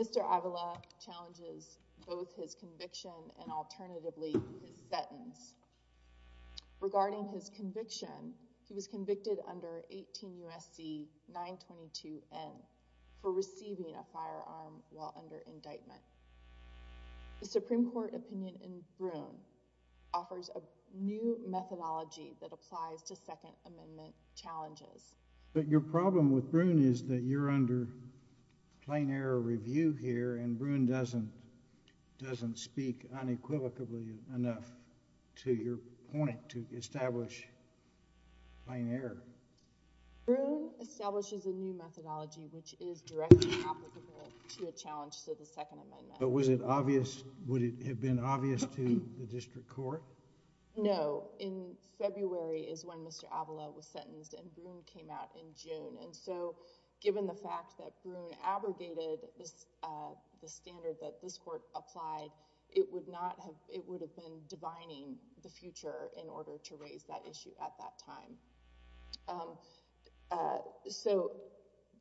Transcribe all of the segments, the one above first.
Mr. Avila challenges both his conviction and alternatively his sentence. Regarding his conviction, he was convicted under 18 U.S.C. 922-N for receiving a firearm while under indictment. The Supreme Court opinion in Broome offers a new methodology that applies to Second Amendment challenges. But your problem with Broome is that you're under plain error review here and Broome doesn't speak unequivocally enough to your point to establish plain error. Broome establishes a new methodology which is directly applicable to a challenge to the Second Amendment. But was it obvious, would it have been obvious to the district court? No. In February is when Mr. Avila was sentenced and Broome came out in June and so given the fact that Broome abrogated the standard that this court applied, it would not have, it issue at that time. So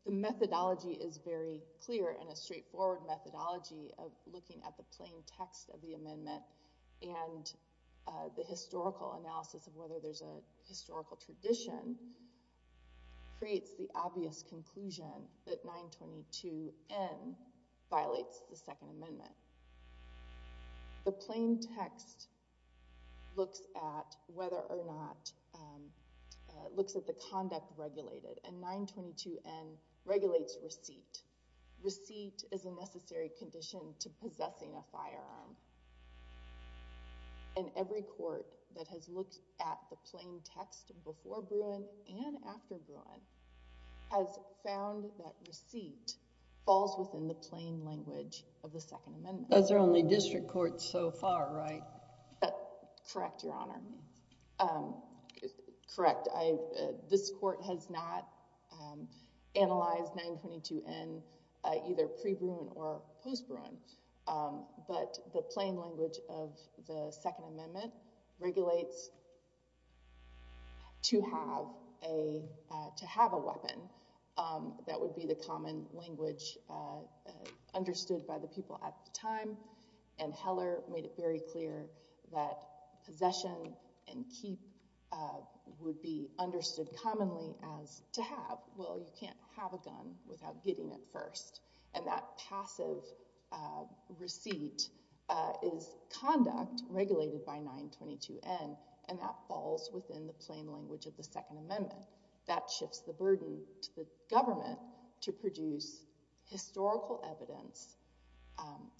the methodology is very clear and a straightforward methodology of looking at the plain text of the amendment and the historical analysis of whether there's a historical tradition creates the obvious conclusion that 922-N violates the Second Amendment. The plain text looks at whether or not, looks at the conduct regulated and 922-N regulates receipt. Receipt is a necessary condition to possessing a firearm and every court that has looked at the plain text before Broome and after Broome has found that receipt falls within the plain language of the Second Amendment. Those are only district courts so far, right? Correct, Your Honor. Correct. This court has not analyzed 922-N either pre-Broome or post-Broome. But the plain language of the Second Amendment regulates to have a weapon. That would be the common language understood by the people at the time. And Heller made it very clear that possession and keep would be understood commonly as to have. Well, you can't have a gun without getting it first. And that passive receipt is conduct regulated by 922-N and that falls within the plain language of the Second Amendment. That shifts the burden to the government to produce historical evidence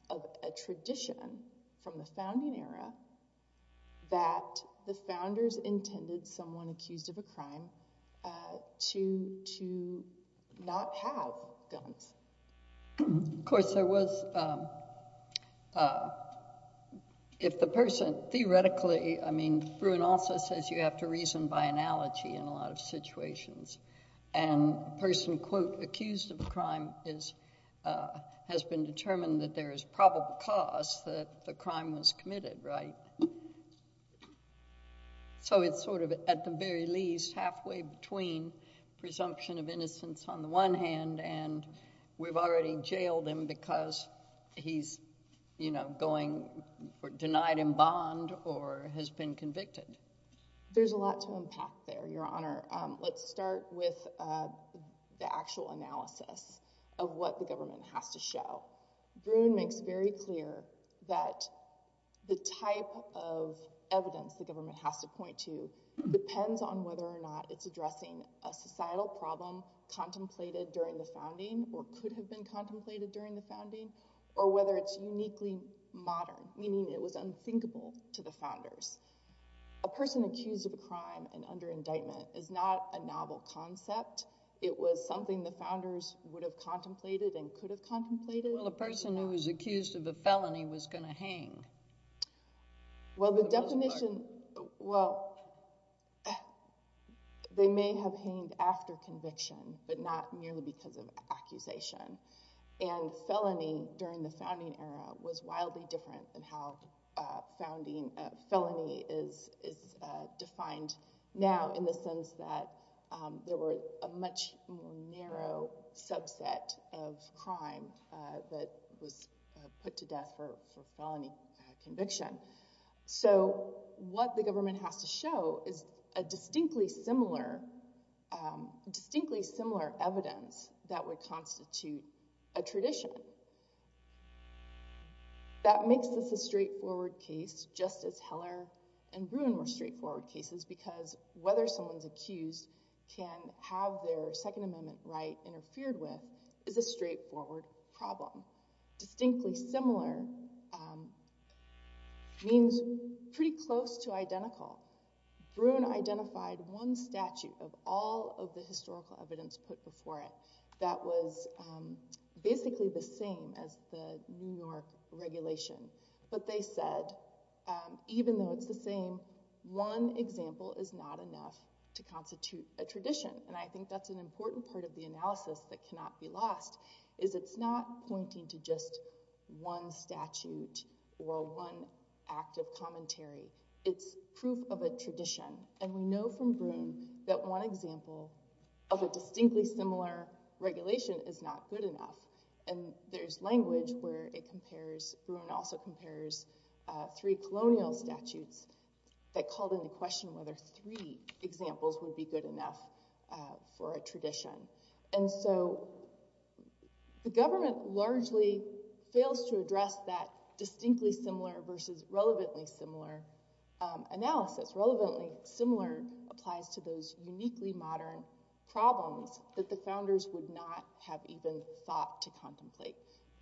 of a tradition from the founding era that the founders intended someone accused of a crime to not have guns. Of course, there was, if the person theoretically, I mean, Broome also says you have to reason by analogy in a lot of situations. And the person, quote, accused of a crime has been determined that there is probable cause that the crime was committed, right? So it's sort of, at the very least, halfway between presumption of innocence on the one hand and we've already jailed him because he's, you know, going or denied in bond or has been convicted. There's a lot to unpack there, Your Honor. Let's start with the actual analysis of what the government has to show. Broome makes very clear that the type of evidence the government has to point to depends on whether or not it's addressing a societal problem contemplated during the founding or could have been contemplated during the founding or whether it's uniquely modern, meaning it was unthinkable to the founders. A person accused of a crime and under indictment is not a novel concept. It was something the founders would have contemplated and could have contemplated. Well, a person who was accused of a felony was going to hang. Well, the definition, well, they may have hanged after conviction, but not merely because of accusation. And felony during the founding era was wildly different than how felony is defined now in the sense that there were a much more narrow subset of crime that was put to death for felony conviction. So what the government has to show is a distinctly similar evidence that would constitute a tradition. That makes this a straightforward case, just as Heller and Broome were straightforward cases, because whether someone's accused can have their Second Amendment right interfered with is a straightforward problem. Now, distinctly similar means pretty close to identical. Broome identified one statute of all of the historical evidence put before it that was basically the same as the New York regulation, but they said, even though it's the same, one example is not enough to constitute a tradition. And I think that's an important part of the analysis that cannot be lost, is it's not pointing to just one statute or one act of commentary. It's proof of a tradition. And we know from Broome that one example of a distinctly similar regulation is not good enough. And there's language where it compares, Broome also compares, three colonial statutes that called into question whether three examples would be good enough for a tradition. And so the government largely fails to address that distinctly similar versus relevantly similar analysis. Relevantly similar applies to those uniquely modern problems that the founders would not have even thought to contemplate.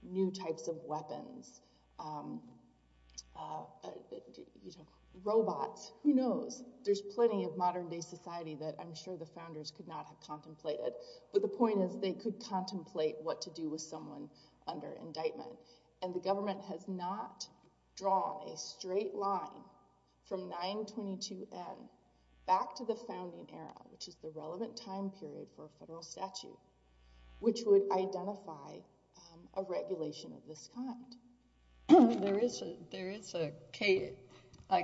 New types of weapons, robots, who knows? There's plenty of modern day society that I'm sure the founders could not have contemplated. But the point is, they could contemplate what to do with someone under indictment. And the government has not drawn a straight line from 922N back to the founding era, which is the relevant time period for a federal statute, which would identify a regulation of this kind. There is a case, I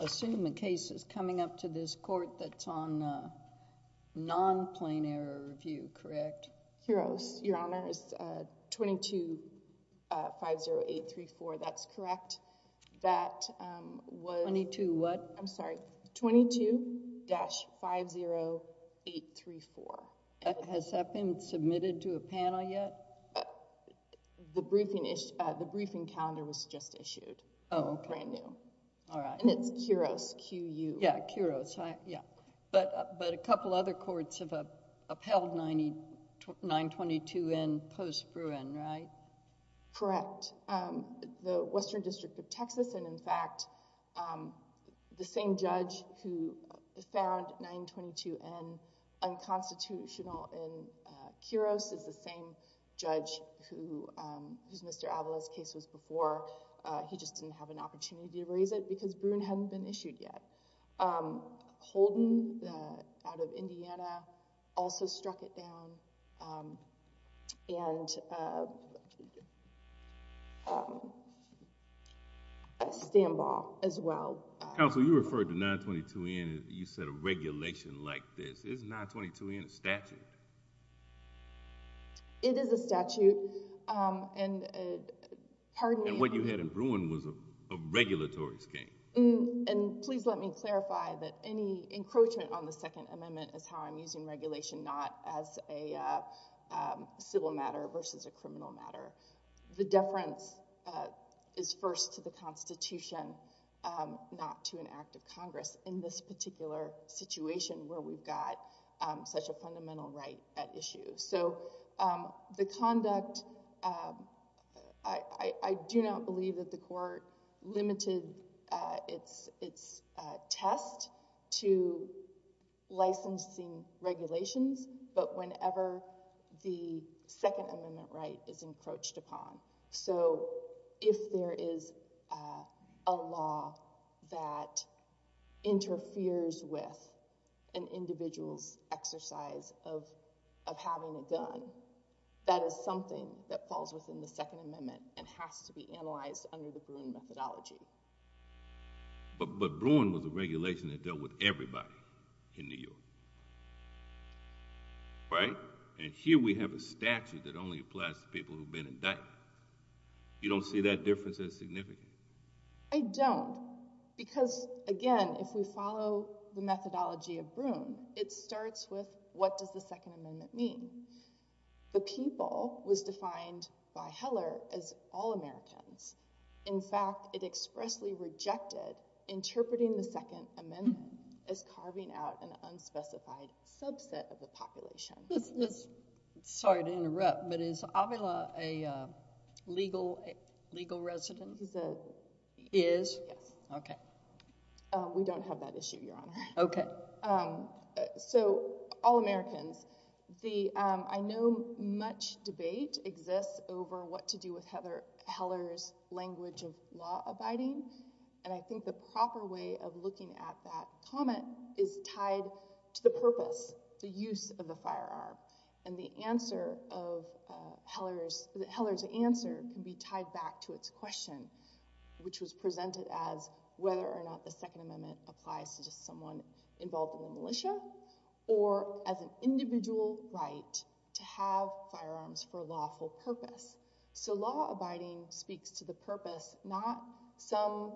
assume a case is coming up to this court that's on non-plain error review, correct? Heroes, Your Honor. It's 22-50834. That's correct. 22 what? I'm sorry. 22-50834. Has that been submitted to a panel yet? The briefing calendar was just issued. Oh, okay. Brand new. All right. And it's Kuros, Q-U. Yeah, Kuros. But a couple other courts have upheld 922N post-Bruin, right? Correct. The Western District of Texas, and in fact, the same judge who found 922N unconstitutional in Kuros is the same judge whose Mr. Avila's case was before. He just didn't have an opportunity to raise it because Bruin hadn't been issued yet. Holden, out of Indiana, also struck it down. And Istanbul as well. Counsel, you referred to 922N. You said a regulation like this. Is 922N a statute? It is a statute. And what you had in Bruin was a regulatory scheme. And please let me clarify that any encroachment on the Second Amendment is how I'm using regulation not as a civil matter versus a criminal matter. The deference is first to the Constitution, not to an act of Congress in this particular situation where we've got such a fundamental right at issue. So the conduct, I do not believe that the court limited its test to licensing regulations, but whenever the Second Amendment right is encroached upon. So if there is a law that interferes with an individual's exercise of having a gun, that is something that falls within the Second Amendment and has to be analyzed under the Bruin methodology. But Bruin was a regulation that dealt with everybody in New York. Right? And here we have a statute that only applies to people who have been indicted. You don't see that difference as significant? I don't. Because, again, if we follow the methodology of Bruin, it starts with what does the Second Amendment mean? The people was defined by Heller as all Americans. In fact, it expressly rejected interpreting the Second Amendment as carving out an unspecified subset of the population. Sorry to interrupt, but is Avila a legal resident? Is? Yes. Okay. We don't have that issue, Your Honor. Okay. So, all Americans. I know much debate exists over what to do with Heller's language of law abiding, and I think the proper way of looking at that comment is tied to the purpose, the use of the firearm. And the answer of Heller's answer can be tied back to its question, which was presented as whether or not the Second Amendment applies to just someone involved in the militia or as an individual right to have firearms for a lawful purpose. So, law abiding speaks to the purpose, not some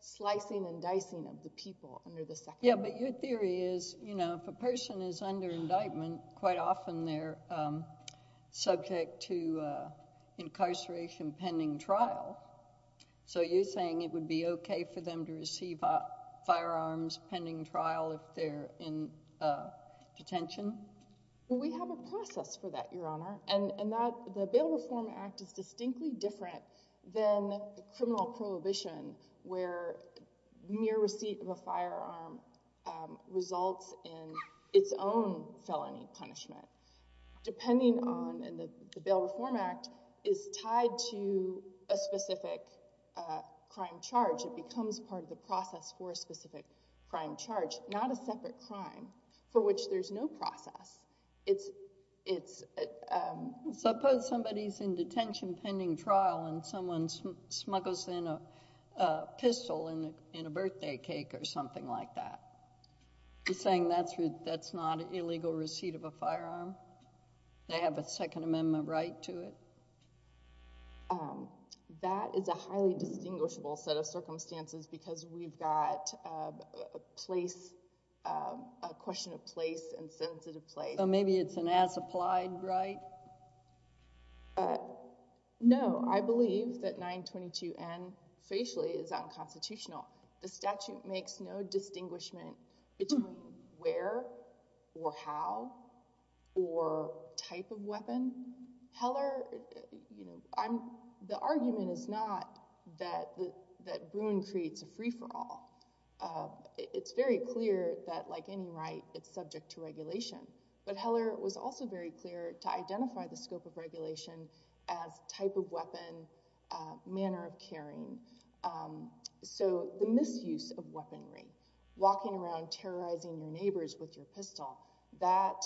slicing and dicing of the people under the Second Amendment. Yeah, but your theory is, you know, if a person is under indictment, quite often they're subject to incarceration pending trial. So, you're saying it would be okay for them to receive firearms pending trial if they're in detention? We have a process for that, Your Honor. And the Bail Reform Act is distinctly different than the criminal prohibition where mere receipt of a firearm results in its own felony punishment. Depending on, and the Bail Reform Act is tied to a specific crime charge. It becomes part of the process for a specific crime charge, not a separate crime for which there's no process. It's, suppose somebody's in detention pending trial and someone smuggles in a pistol in a birthday cake or something like that. You're saying that's not illegal receipt of a firearm? They have a Second Amendment right to it? That is a highly distinguishable set of circumstances because we've got a place, a question of place and sensitive place. So, maybe it's an as-applied right? No, I believe that 922N facially is unconstitutional. The statute makes no distinguishment between where or how or type of weapon. Heller, you know, the argument is not that Bruin creates a free-for-all. It's very clear that, like any right, it's subject to regulation. But Heller was also very clear to identify the scope of regulation as type of weapon, manner of carrying. So, the misuse of weaponry, walking around terrorizing your neighbors with your pistol, that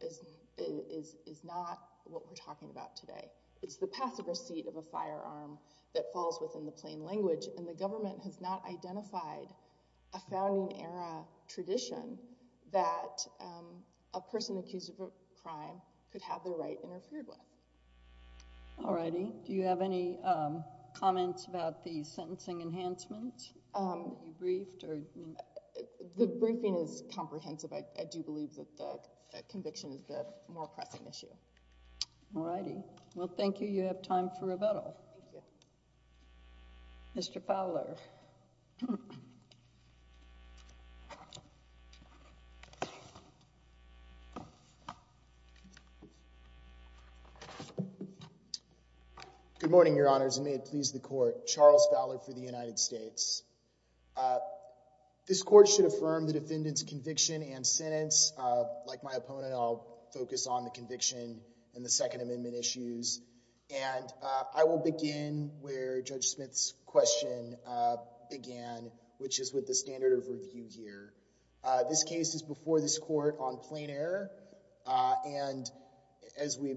is not what we're talking about today. It's the passive receipt of a firearm that falls within the plain language and the government has not identified a founding era tradition that a person accused of a crime could have their right interfered with. All righty. Do you have any comments about the sentencing enhancement? You briefed? The briefing is comprehensive. I do believe that the conviction is the more pressing issue. All righty. Well, thank you. You have time for rebuttal. Thank you. Mr. Fowler. Good morning, Your Honors, and may it please the Court. Charles Fowler for the United States. This Court should affirm the defendant's conviction and sentence. Like my opponent, I'll focus on the conviction and the Second Amendment issues. And I will begin where Judge Smith's question began, which is with the standard of review here. This case is before this Court on plain error. And as we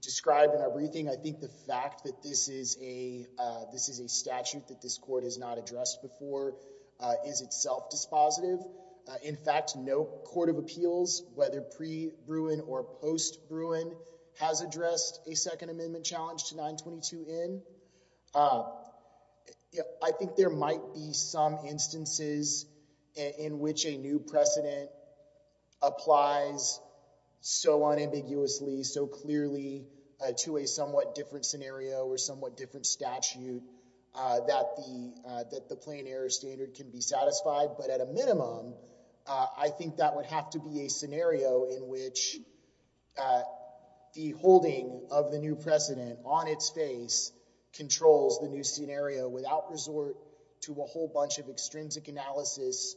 described in our briefing, I think the fact that this is a statute that this Court has not addressed before is itself dispositive. In fact, no court of appeals, whether pre-Bruin or post-Bruin, has addressed a Second Amendment challenge to 922n. I think there might be some instances in which a new precedent applies so unambiguously, so clearly, to a somewhat different scenario or somewhat different statute that the plain error standard can be satisfied. But at a minimum, I think that would have to be a scenario in which the holding of the new precedent on its face controls the new scenario without resort to a whole bunch of extrinsic analysis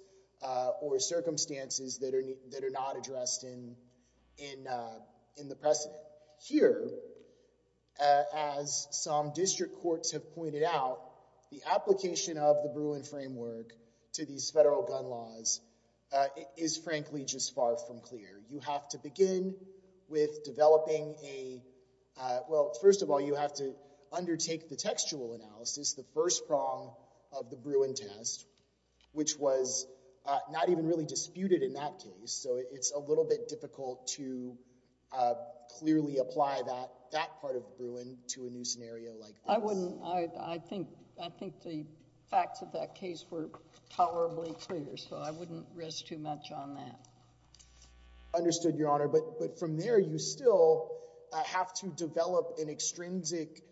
or circumstances that are not addressed in the precedent. Here, as some district courts have pointed out, the application of the Bruin framework to these federal gun laws is frankly just far from clear. You have to begin with developing a—well, first of all, you have to undertake the textual analysis, the first prong of the Bruin test, which was not even really disputed in that case. So it's a little bit difficult to clearly apply that part of Bruin to a new scenario like this. I wouldn't—I think the facts of that case were tolerably clear, so I wouldn't risk too much on that. Understood, Your Honor. But from there, you still have to develop an extrinsic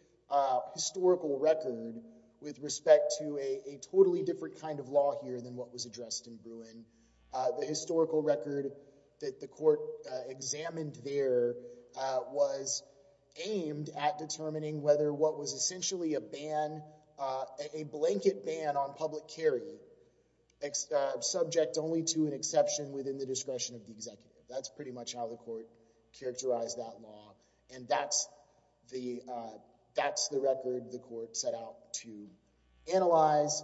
historical record with respect to a totally different kind of law here than what was addressed in Bruin. The historical record that the court examined there was aimed at determining whether what was essentially a ban—a blanket ban on public carry subject only to an exception within the discretion of the executive. That's pretty much how the court characterized that law, and that's the record the court set out to analyze,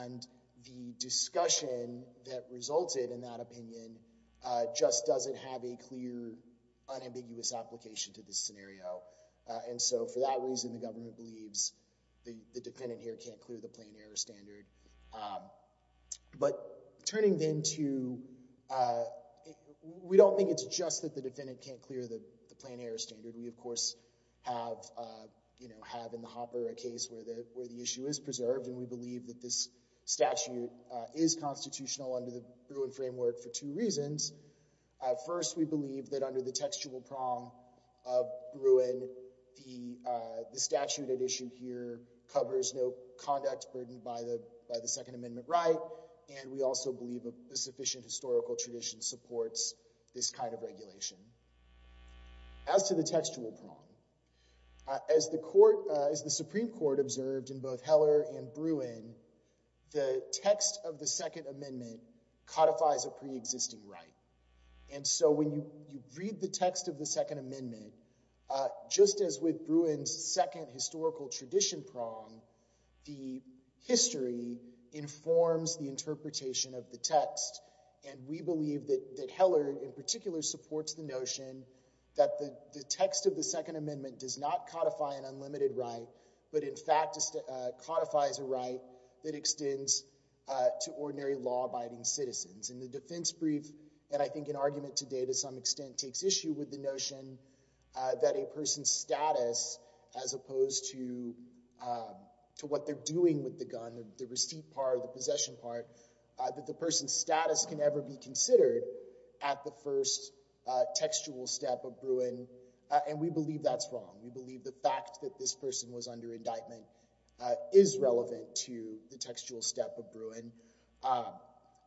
and the discussion that resulted in that opinion just doesn't have a clear, unambiguous application to this scenario. And so for that reason, the government believes the defendant here can't clear the plain error standard. But turning then to—we don't think it's just that the defendant can't clear the plain error standard. We, of course, have in the Hopper a case where the issue is preserved, and we believe that this statute is constitutional under the Bruin framework for two reasons. First, we believe that under the textual prong of Bruin, the statute at issue here covers no conduct burdened by the Second Amendment right, and we also believe a sufficient historical tradition supports this kind of regulation. As to the textual prong, as the Supreme Court observed in both Heller and Bruin, the text of the Second Amendment codifies a preexisting right. And so when you read the text of the Second Amendment, just as with Bruin's second historical tradition prong, the history informs the interpretation of the text, and we believe that Heller in particular supports the notion that the text of the Second Amendment does not codify an And the defense brief, and I think an argument today to some extent, takes issue with the notion that a person's status, as opposed to what they're doing with the gun, the receipt part or the possession part, that the person's status can never be considered at the first textual step of Bruin, and we believe that's wrong. We believe the fact that this person was under indictment is relevant to the textual step of Bruin.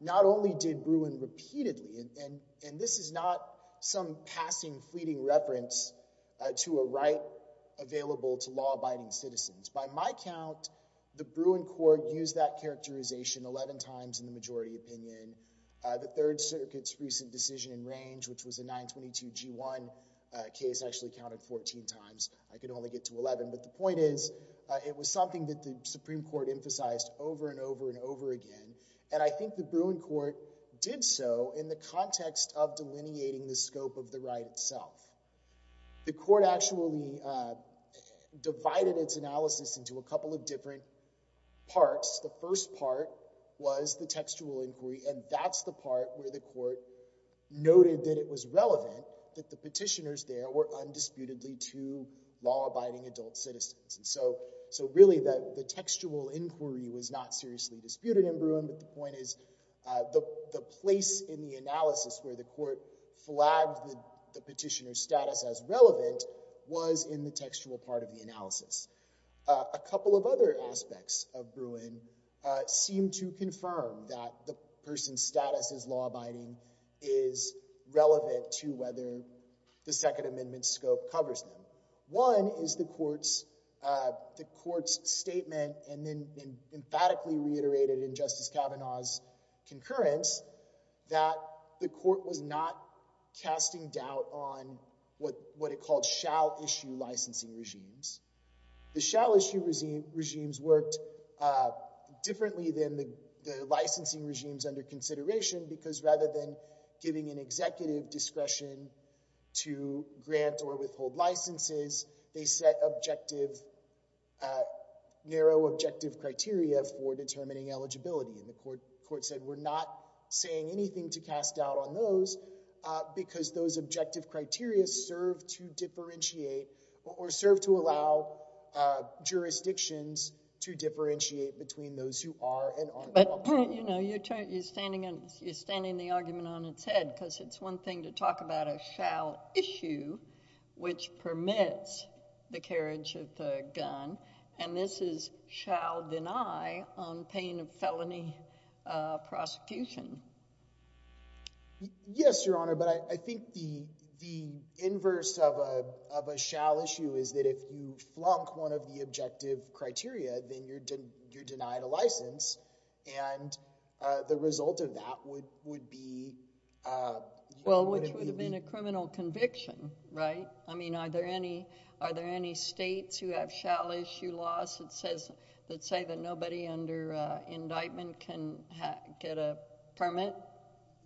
Not only did Bruin repeatedly, and this is not some passing fleeting reference to a right available to law-abiding citizens. By my count, the Bruin court used that characterization 11 times in the majority opinion. The Third Circuit's recent decision in range, which was a 922-G1 case, actually counted 14 times. I could only get to 11, but the point is it was something that the Supreme Court emphasized over and over and over again, and I think the Bruin court did so in the context of delineating the scope of the right itself. The court actually divided its analysis into a couple of different parts. The first part was the textual inquiry, and that's the part where the court noted that it was relevant that the petitioners there were undisputedly two law-abiding adult citizens. Really, the textual inquiry was not seriously disputed in Bruin, but the point is the place in the analysis where the court flagged the petitioner's status as relevant was in the textual part of the analysis. A couple of other aspects of Bruin seem to confirm that the person's status as law-abiding is relevant to whether the Second Amendment scope covers them. One is the court's statement, and then emphatically reiterated in Justice Kavanaugh's concurrence, that the court was not casting doubt on what it called shall-issue licensing regimes. The shall-issue regimes worked differently than the licensing regimes under consideration because rather than giving an executive discretion to grant or withhold licenses, they set objective, narrow objective criteria for determining eligibility. The court said, we're not saying anything to cast doubt on those because those objective criteria serve to differentiate or serve to allow jurisdictions to differentiate between those who are and aren't law-abiding. You know, you're standing the argument on its head because it's one thing to talk about a shall-issue, which permits the carriage of the gun, and this is shall-deny on pain of felony prosecution. Yes, Your Honor, but I think the inverse of a shall-issue is that if you flunk one of the objective criteria, then you're denied a license, and the result of that would be— Well, which would have been a criminal conviction, right? I mean, are there any states who have shall-issue laws that say that nobody under indictment can get a permit?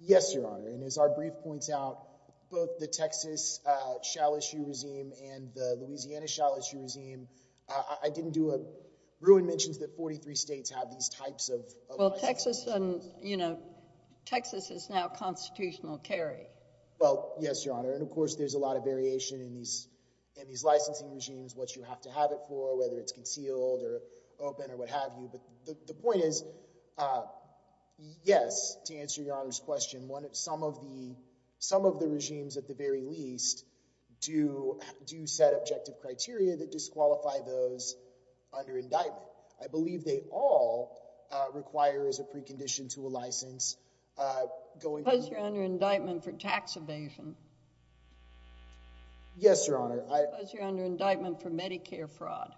Yes, Your Honor, and as our brief points out, both the Texas shall-issue regime and the Ruin mentions that 43 states have these types of— Well, Texas is now constitutional carry. Well, yes, Your Honor, and of course there's a lot of variation in these licensing regimes, what you have to have it for, whether it's concealed or open or what have you. But the point is, yes, to answer Your Honor's question, some of the regimes at the very least do set objective criteria that disqualify those under indictment. I believe they all require as a precondition to a license going to— Suppose you're under indictment for tax evasion. Yes, Your Honor. Suppose you're under indictment for Medicare fraud.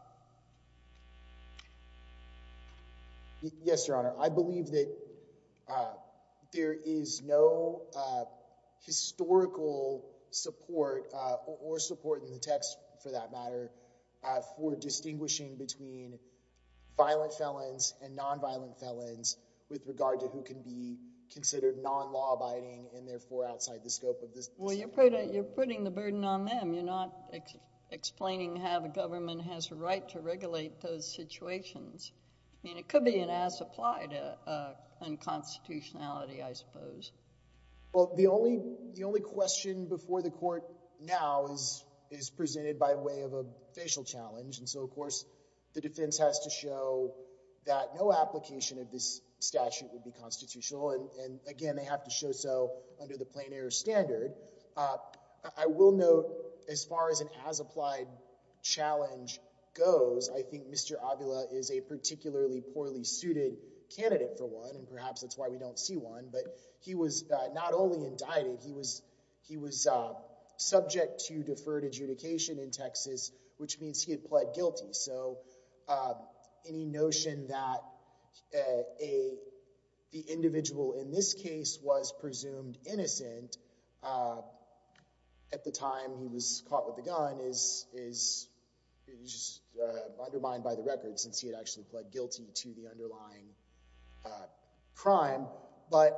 Yes, Your Honor, I believe that there is no historical support or support in the text for that matter for distinguishing between violent felons and nonviolent felons with regard to who can be considered non-law abiding and therefore outside the scope of this— Well, you're putting the burden on them. You're not explaining how the government has a right to regulate those situations. I mean, it could be an as-applied unconstitutionality, I suppose. Well, the only question before the court now is presented by way of a facial challenge. And so, of course, the defense has to show that no application of this statute would be constitutional. And again, they have to show so under the plain error standard. I will note, as far as an as-applied challenge goes, I think Mr. Avila is a particularly poorly suited candidate for one, and perhaps that's why we don't see one. But he was not only indicted, he was subject to deferred adjudication in Texas, which means he had pled guilty. So any notion that the individual in this case was presumed innocent at the time he was caught with the gun is undermined by the record, since he had actually pled guilty to the underlying crime. But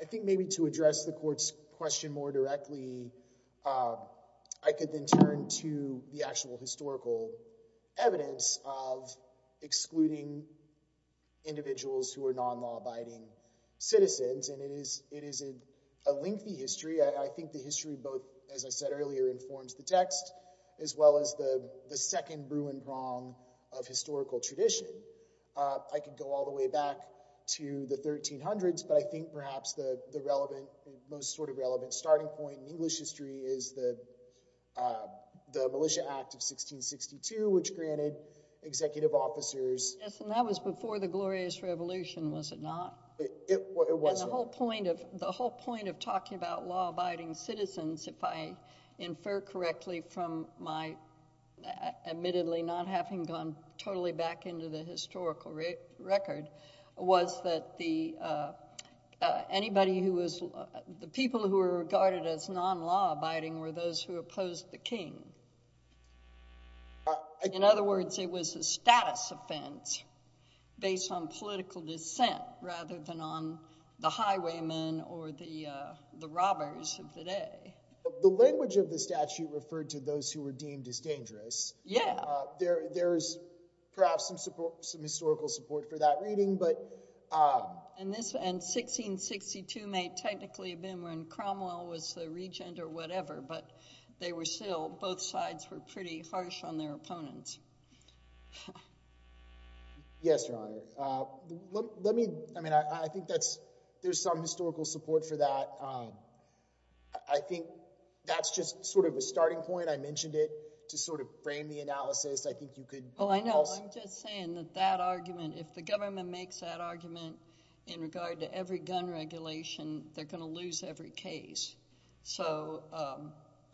I think maybe to address the court's question more directly, I could then turn to the actual historical evidence of excluding individuals who are non-law-abiding citizens. And it is a lengthy history. I think the history both, as I said earlier, informs the text, as well as the second Bruin prong of historical tradition. I could go all the way back to the 1300s, but I think perhaps the most sort of relevant starting point in English history is the Militia Act of 1662, which granted executive officers— Yes, and that was before the Glorious Revolution, was it not? It was. And the whole point of talking about law-abiding citizens, if I infer correctly from my admittedly not having gone totally back into the historical record, was that anybody who was—the people who were regarded as non-law-abiding were those who opposed the king. In other words, it was a status offense based on political dissent rather than on the highwaymen or the robbers of the day. The language of the statute referred to those who were deemed as dangerous. Yeah. There is perhaps some historical support for that reading, but— And this—and 1662 may technically have been when Cromwell was the regent or whatever, but they were still—both sides were pretty harsh on their opponents. Yes, Your Honor. Let me—I mean, I think that's—there's some historical support for that. I think that's just sort of a starting point. I mentioned it to sort of frame the analysis. I think you could— Well, I know. I'm just saying that that argument—if the government makes that argument in regard to every gun regulation, they're going to lose every case. So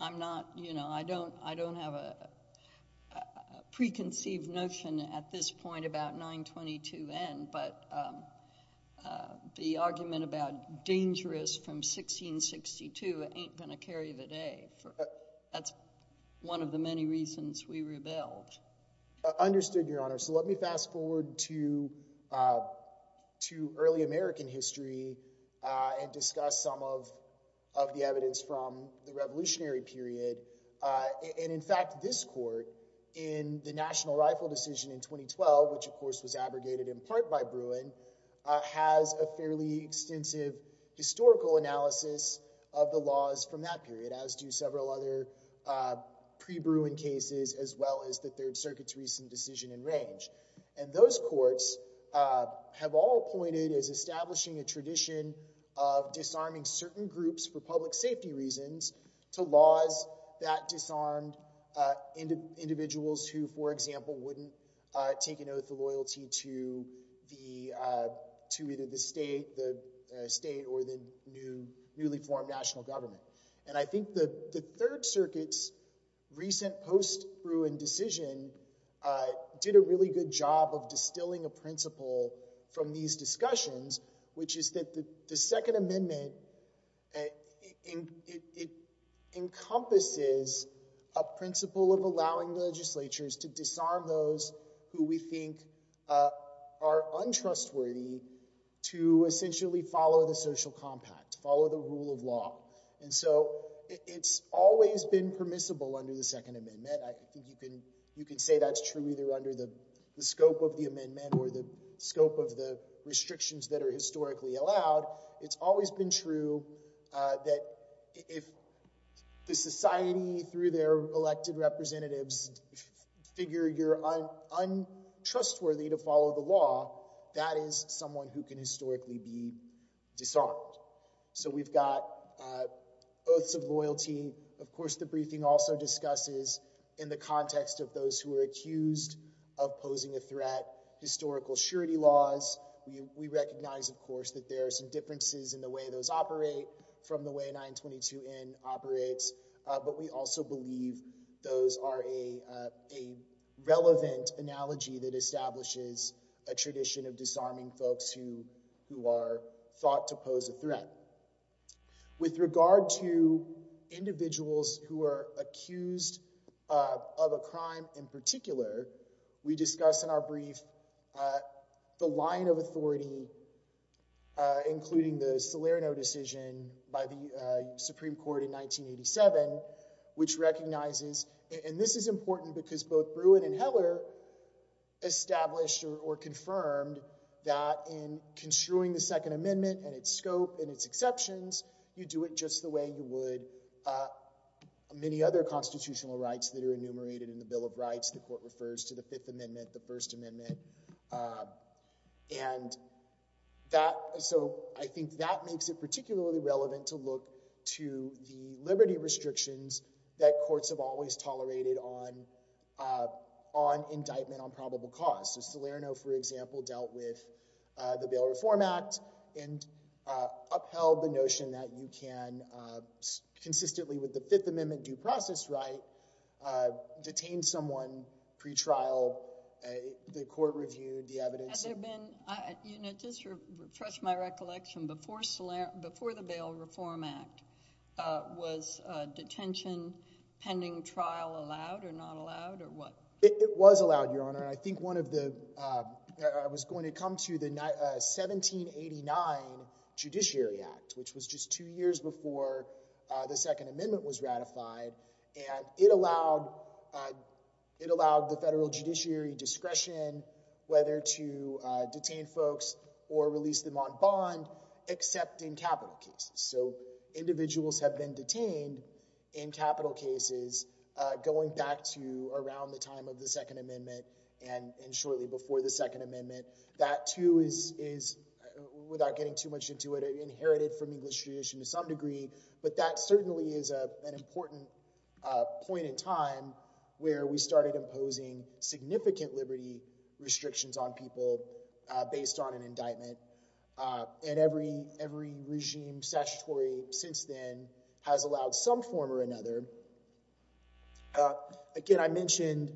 I'm not—you know, I don't have a preconceived notion at this point about 922N, but the argument about dangerous from 1662 ain't going to carry the day. That's one of the many reasons we rebelled. Understood, Your Honor. So let me fast forward to early American history and discuss some of the evidence from the Revolutionary period. And, in fact, this court in the National Rifle Decision in 2012, which, of course, was abrogated in part by Bruin, has a fairly extensive historical analysis of the laws from that period, as do several other pre-Bruin cases as well as the Third Circuit's recent decision in range. And those courts have all pointed as establishing a tradition of disarming certain groups for public safety reasons to laws that disarmed individuals who, for example, wouldn't take an oath of loyalty to either the state or the newly formed national government. And I think the Third Circuit's recent post-Bruin decision did a really good job of distilling a principle from these discussions, which is that the Second Amendment encompasses a principle of allowing legislatures to disarm those who we think are untrustworthy to essentially follow the social compact, to follow the rule of law. And so it's always been permissible under the Second Amendment. I think you can say that's true either under the scope of the amendment or the scope of the restrictions that are historically allowed. It's always been true that if the society, through their elected representatives, figure you're untrustworthy to follow the law, that is someone who can historically be disarmed. So we've got oaths of loyalty. Of course, the briefing also discusses, in the context of those who are accused of posing a threat, historical surety laws. We recognize, of course, that there are some differences in the way those operate from the way 922N operates. But we also believe those are a relevant analogy that establishes a tradition of disarming folks who are thought to pose a threat. With regard to individuals who are accused of a crime in particular, we discuss in our brief the line of authority, including the Salerno decision by the Supreme Court in 1987, which recognizes, and this is important because both Bruin and Heller established or confirmed that in construing the Second Amendment and its scope and its exceptions, you do it just the way you would many other constitutional rights that are enumerated in the Bill of Rights. The Court refers to the Fifth Amendment, the First Amendment. And so I think that makes it particularly relevant to look to the liberty restrictions that courts have always tolerated on indictment on probable cause. So Salerno, for example, dealt with the Bail Reform Act and upheld the notion that you can, consistently with the Fifth Amendment due process right, detain someone pretrial, the court reviewed the evidence. Has there been, just to refresh my recollection, before the Bail Reform Act, was detention pending trial allowed or not allowed? It was allowed, Your Honor. I think one of the, I was going to come to the 1789 Judiciary Act, which was just two years before the Second Amendment was ratified. And it allowed, it allowed the federal judiciary discretion whether to detain folks or release them on bond, except in capital cases. So individuals have been detained in capital cases going back to around the time of the Second Amendment and shortly before the Second Amendment. That too is, without getting too much into it, inherited from English tradition to some degree. But that certainly is an important point in time where we started imposing significant liberty restrictions on people based on an indictment. And every regime statutory since then has allowed some form or another. Again, I mentioned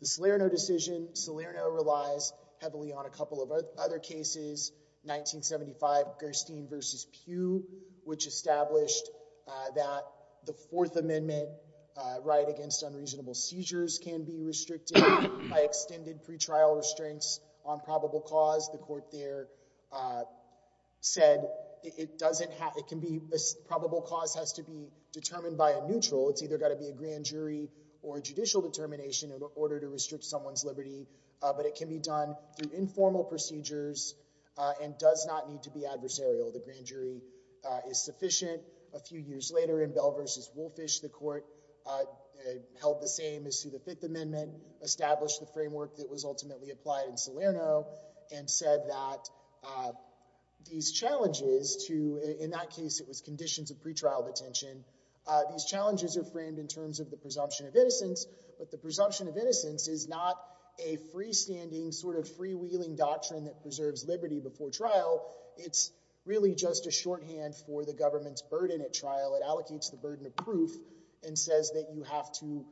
the Salerno decision. Salerno relies heavily on a couple of other cases. 1975, Gerstein v. Pew, which established that the Fourth Amendment right against unreasonable seizures can be restricted by extended pretrial restraints on probable cause. The court there said it doesn't have, it can be, probable cause has to be determined by a neutral. It's either got to be a grand jury or a judicial determination in order to restrict someone's liberty. But it can be done through informal procedures and does not need to be adversarial. The grand jury is sufficient. A few years later, in Bell v. Woolfish, the court held the same as to the Fifth Amendment, established the framework that was ultimately applied in Salerno and said that these challenges to, in that case it was conditions of pretrial detention, these challenges are framed in terms of the presumption of innocence, but the presumption of innocence is not a freestanding, sort of freewheeling doctrine that preserves liberty before trial. It's really just a shorthand for the government's burden at trial. It allocates the burden of proof and says that you have to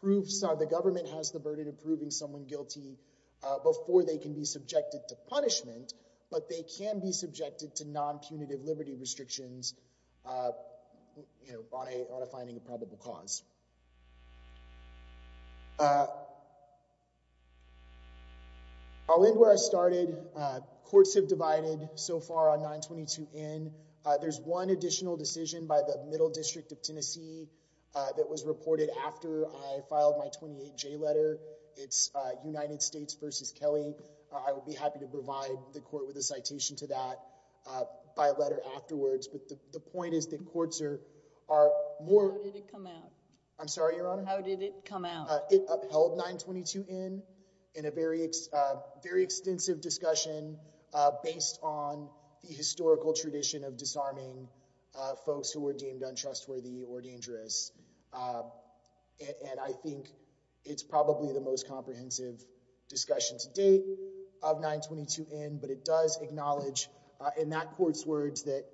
prove, the government has the burden of proving someone guilty before they can be subjected to punishment, but they can be subjected to non-punitive liberty restrictions on a finding of probable cause. I'll end where I started. Courts have divided so far on 922N. There's one additional decision by the Middle District of Tennessee that was reported after I filed my 28J letter. It's United States v. Kelly. I will be happy to provide the court with a citation to that by letter afterwards, but the point is that courts are more— How did it come out? I'm sorry, Your Honor? How did it come out? It upheld 922N in a very extensive discussion based on the historical tradition of disarming folks who were deemed untrustworthy or dangerous, and I think it's probably the most comprehensive discussion to date of 922N, but it does acknowledge, in that court's words, that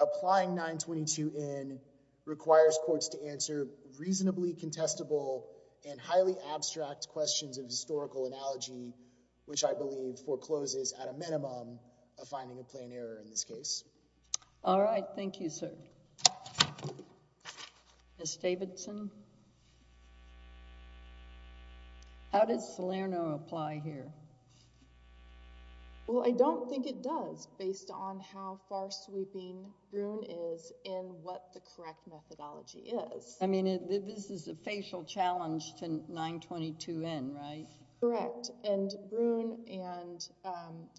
applying 922N requires courts to answer reasonably contestable and highly abstract questions of historical analogy, which I believe forecloses at a minimum a finding of plain error in this case. All right. Thank you, sir. Ms. Davidson? How does Salerno apply here? Well, I don't think it does based on how far-sweeping Grun is in what the correct methodology is. I mean, this is a facial challenge to 922N, right? Correct, and Brun and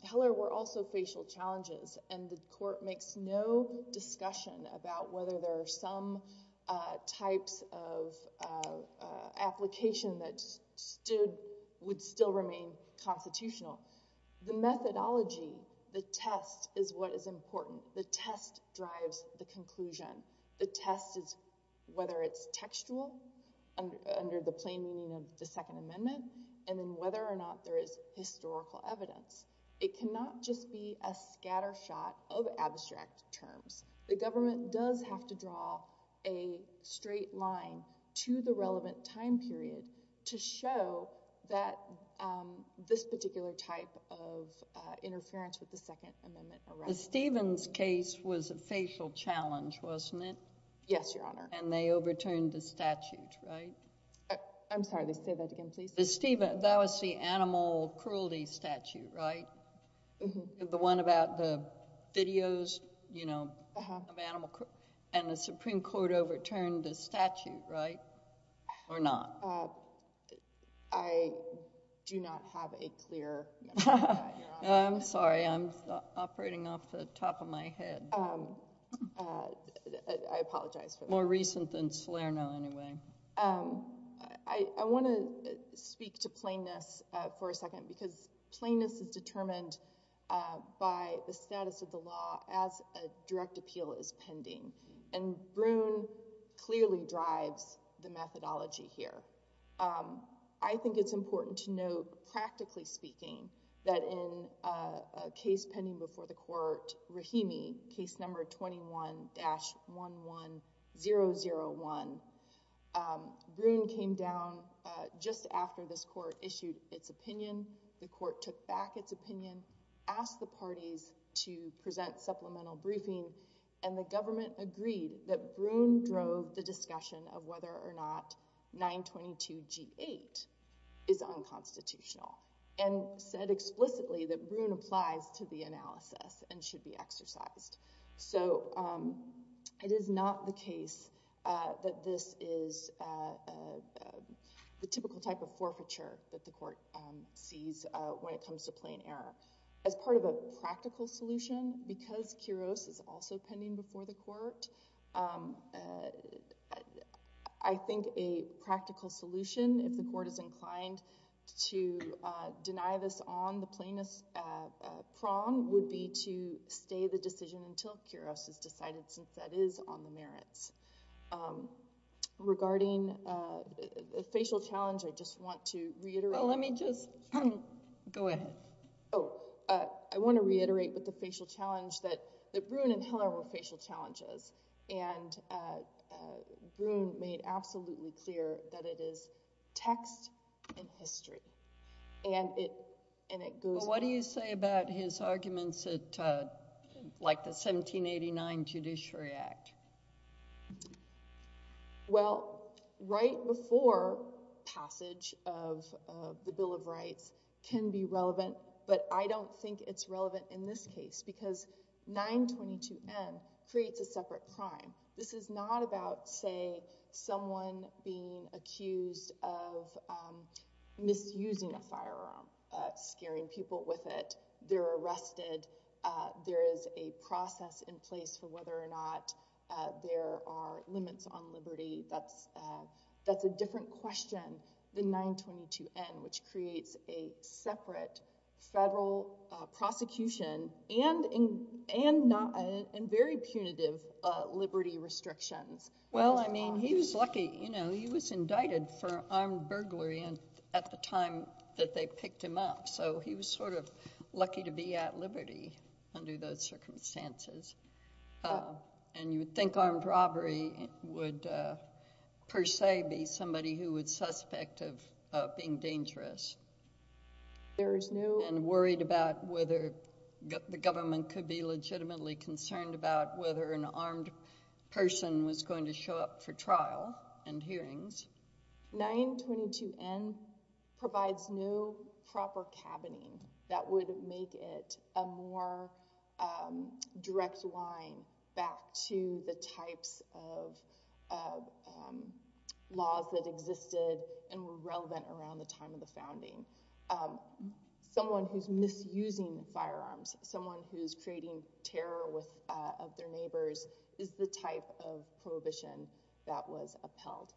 Heller were also facial challenges, and the court makes no discussion about whether there are some types of application that would still remain constitutional. The methodology, the test, is what is important. The test drives the conclusion. The test is whether it's textual, under the plain meaning of the Second Amendment, and then whether or not there is historical evidence. It cannot just be a scattershot of abstract terms. The government does have to draw a straight line to the relevant time period to show that this particular type of interference with the Second Amendment arises. The Stevens case was a facial challenge, wasn't it? Yes, Your Honor. And they overturned the statute, right? I'm sorry. Say that again, please. That was the animal cruelty statute, right? The one about the videos of animal... and the Supreme Court overturned the statute, right, or not? I do not have a clear... I'm sorry. I'm operating off the top of my head. I apologize for that. More recent than Salerno, anyway. I want to speak to plainness for a second, because plainness is determined by the status of the law as a direct appeal is pending, and Bruhn clearly drives the methodology here. I think it's important to note, practically speaking, that in a case pending before the court, Rahimi, case number 21-11001, Bruhn came down just after this court issued its opinion. The court took back its opinion, asked the parties to present supplemental briefing, and the government agreed that Bruhn drove the discussion of whether or not 922G8 is unconstitutional. And said explicitly that Bruhn applies to the analysis and should be exercised. So it is not the case that this is the typical type of forfeiture that the court sees when it comes to plain error. As part of a practical solution, because Kuros is also pending before the court, I think a practical solution, if the court is inclined to deny this on the plainness prong, would be to stay the decision until Kuros is decided, since that is on the merits. Regarding the facial challenge, I just want to reiterate... Well, let me just... Go ahead. Oh, I want to reiterate with the facial challenge that Bruhn and Hiller were facial challenges, and Bruhn made absolutely clear that it is text and history, and it goes... Well, what do you say about his arguments at, like, the 1789 Judiciary Act? Well, right before passage of the Bill of Rights can be relevant, but I don't think it's relevant in this case, because 922N creates a separate crime. This is not about, say, someone being accused of misusing a firearm, scaring people with it. They're arrested. There is a process in place for whether or not there are limits on liberty. That's a different question than 922N, which creates a separate federal prosecution and very punitive liberty restrictions. Well, I mean, he was lucky. You know, he was indicted for armed burglary at the time that they picked him up, so he was sort of lucky to be at liberty under those circumstances. And you would think armed robbery would per se be somebody who was suspect of being dangerous and worried about whether the government could be legitimately concerned about whether an armed person was going to show up for trial and hearings. 922N provides no proper cabining that would make it a more direct line back to the types of laws that existed and were relevant around the time of the founding. Someone who's misusing firearms, someone who's creating terror of their neighbors, is the type of prohibition that was upheld,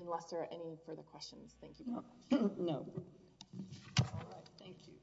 unless there are any further questions. Thank you. No. All right, thank you. Thank you.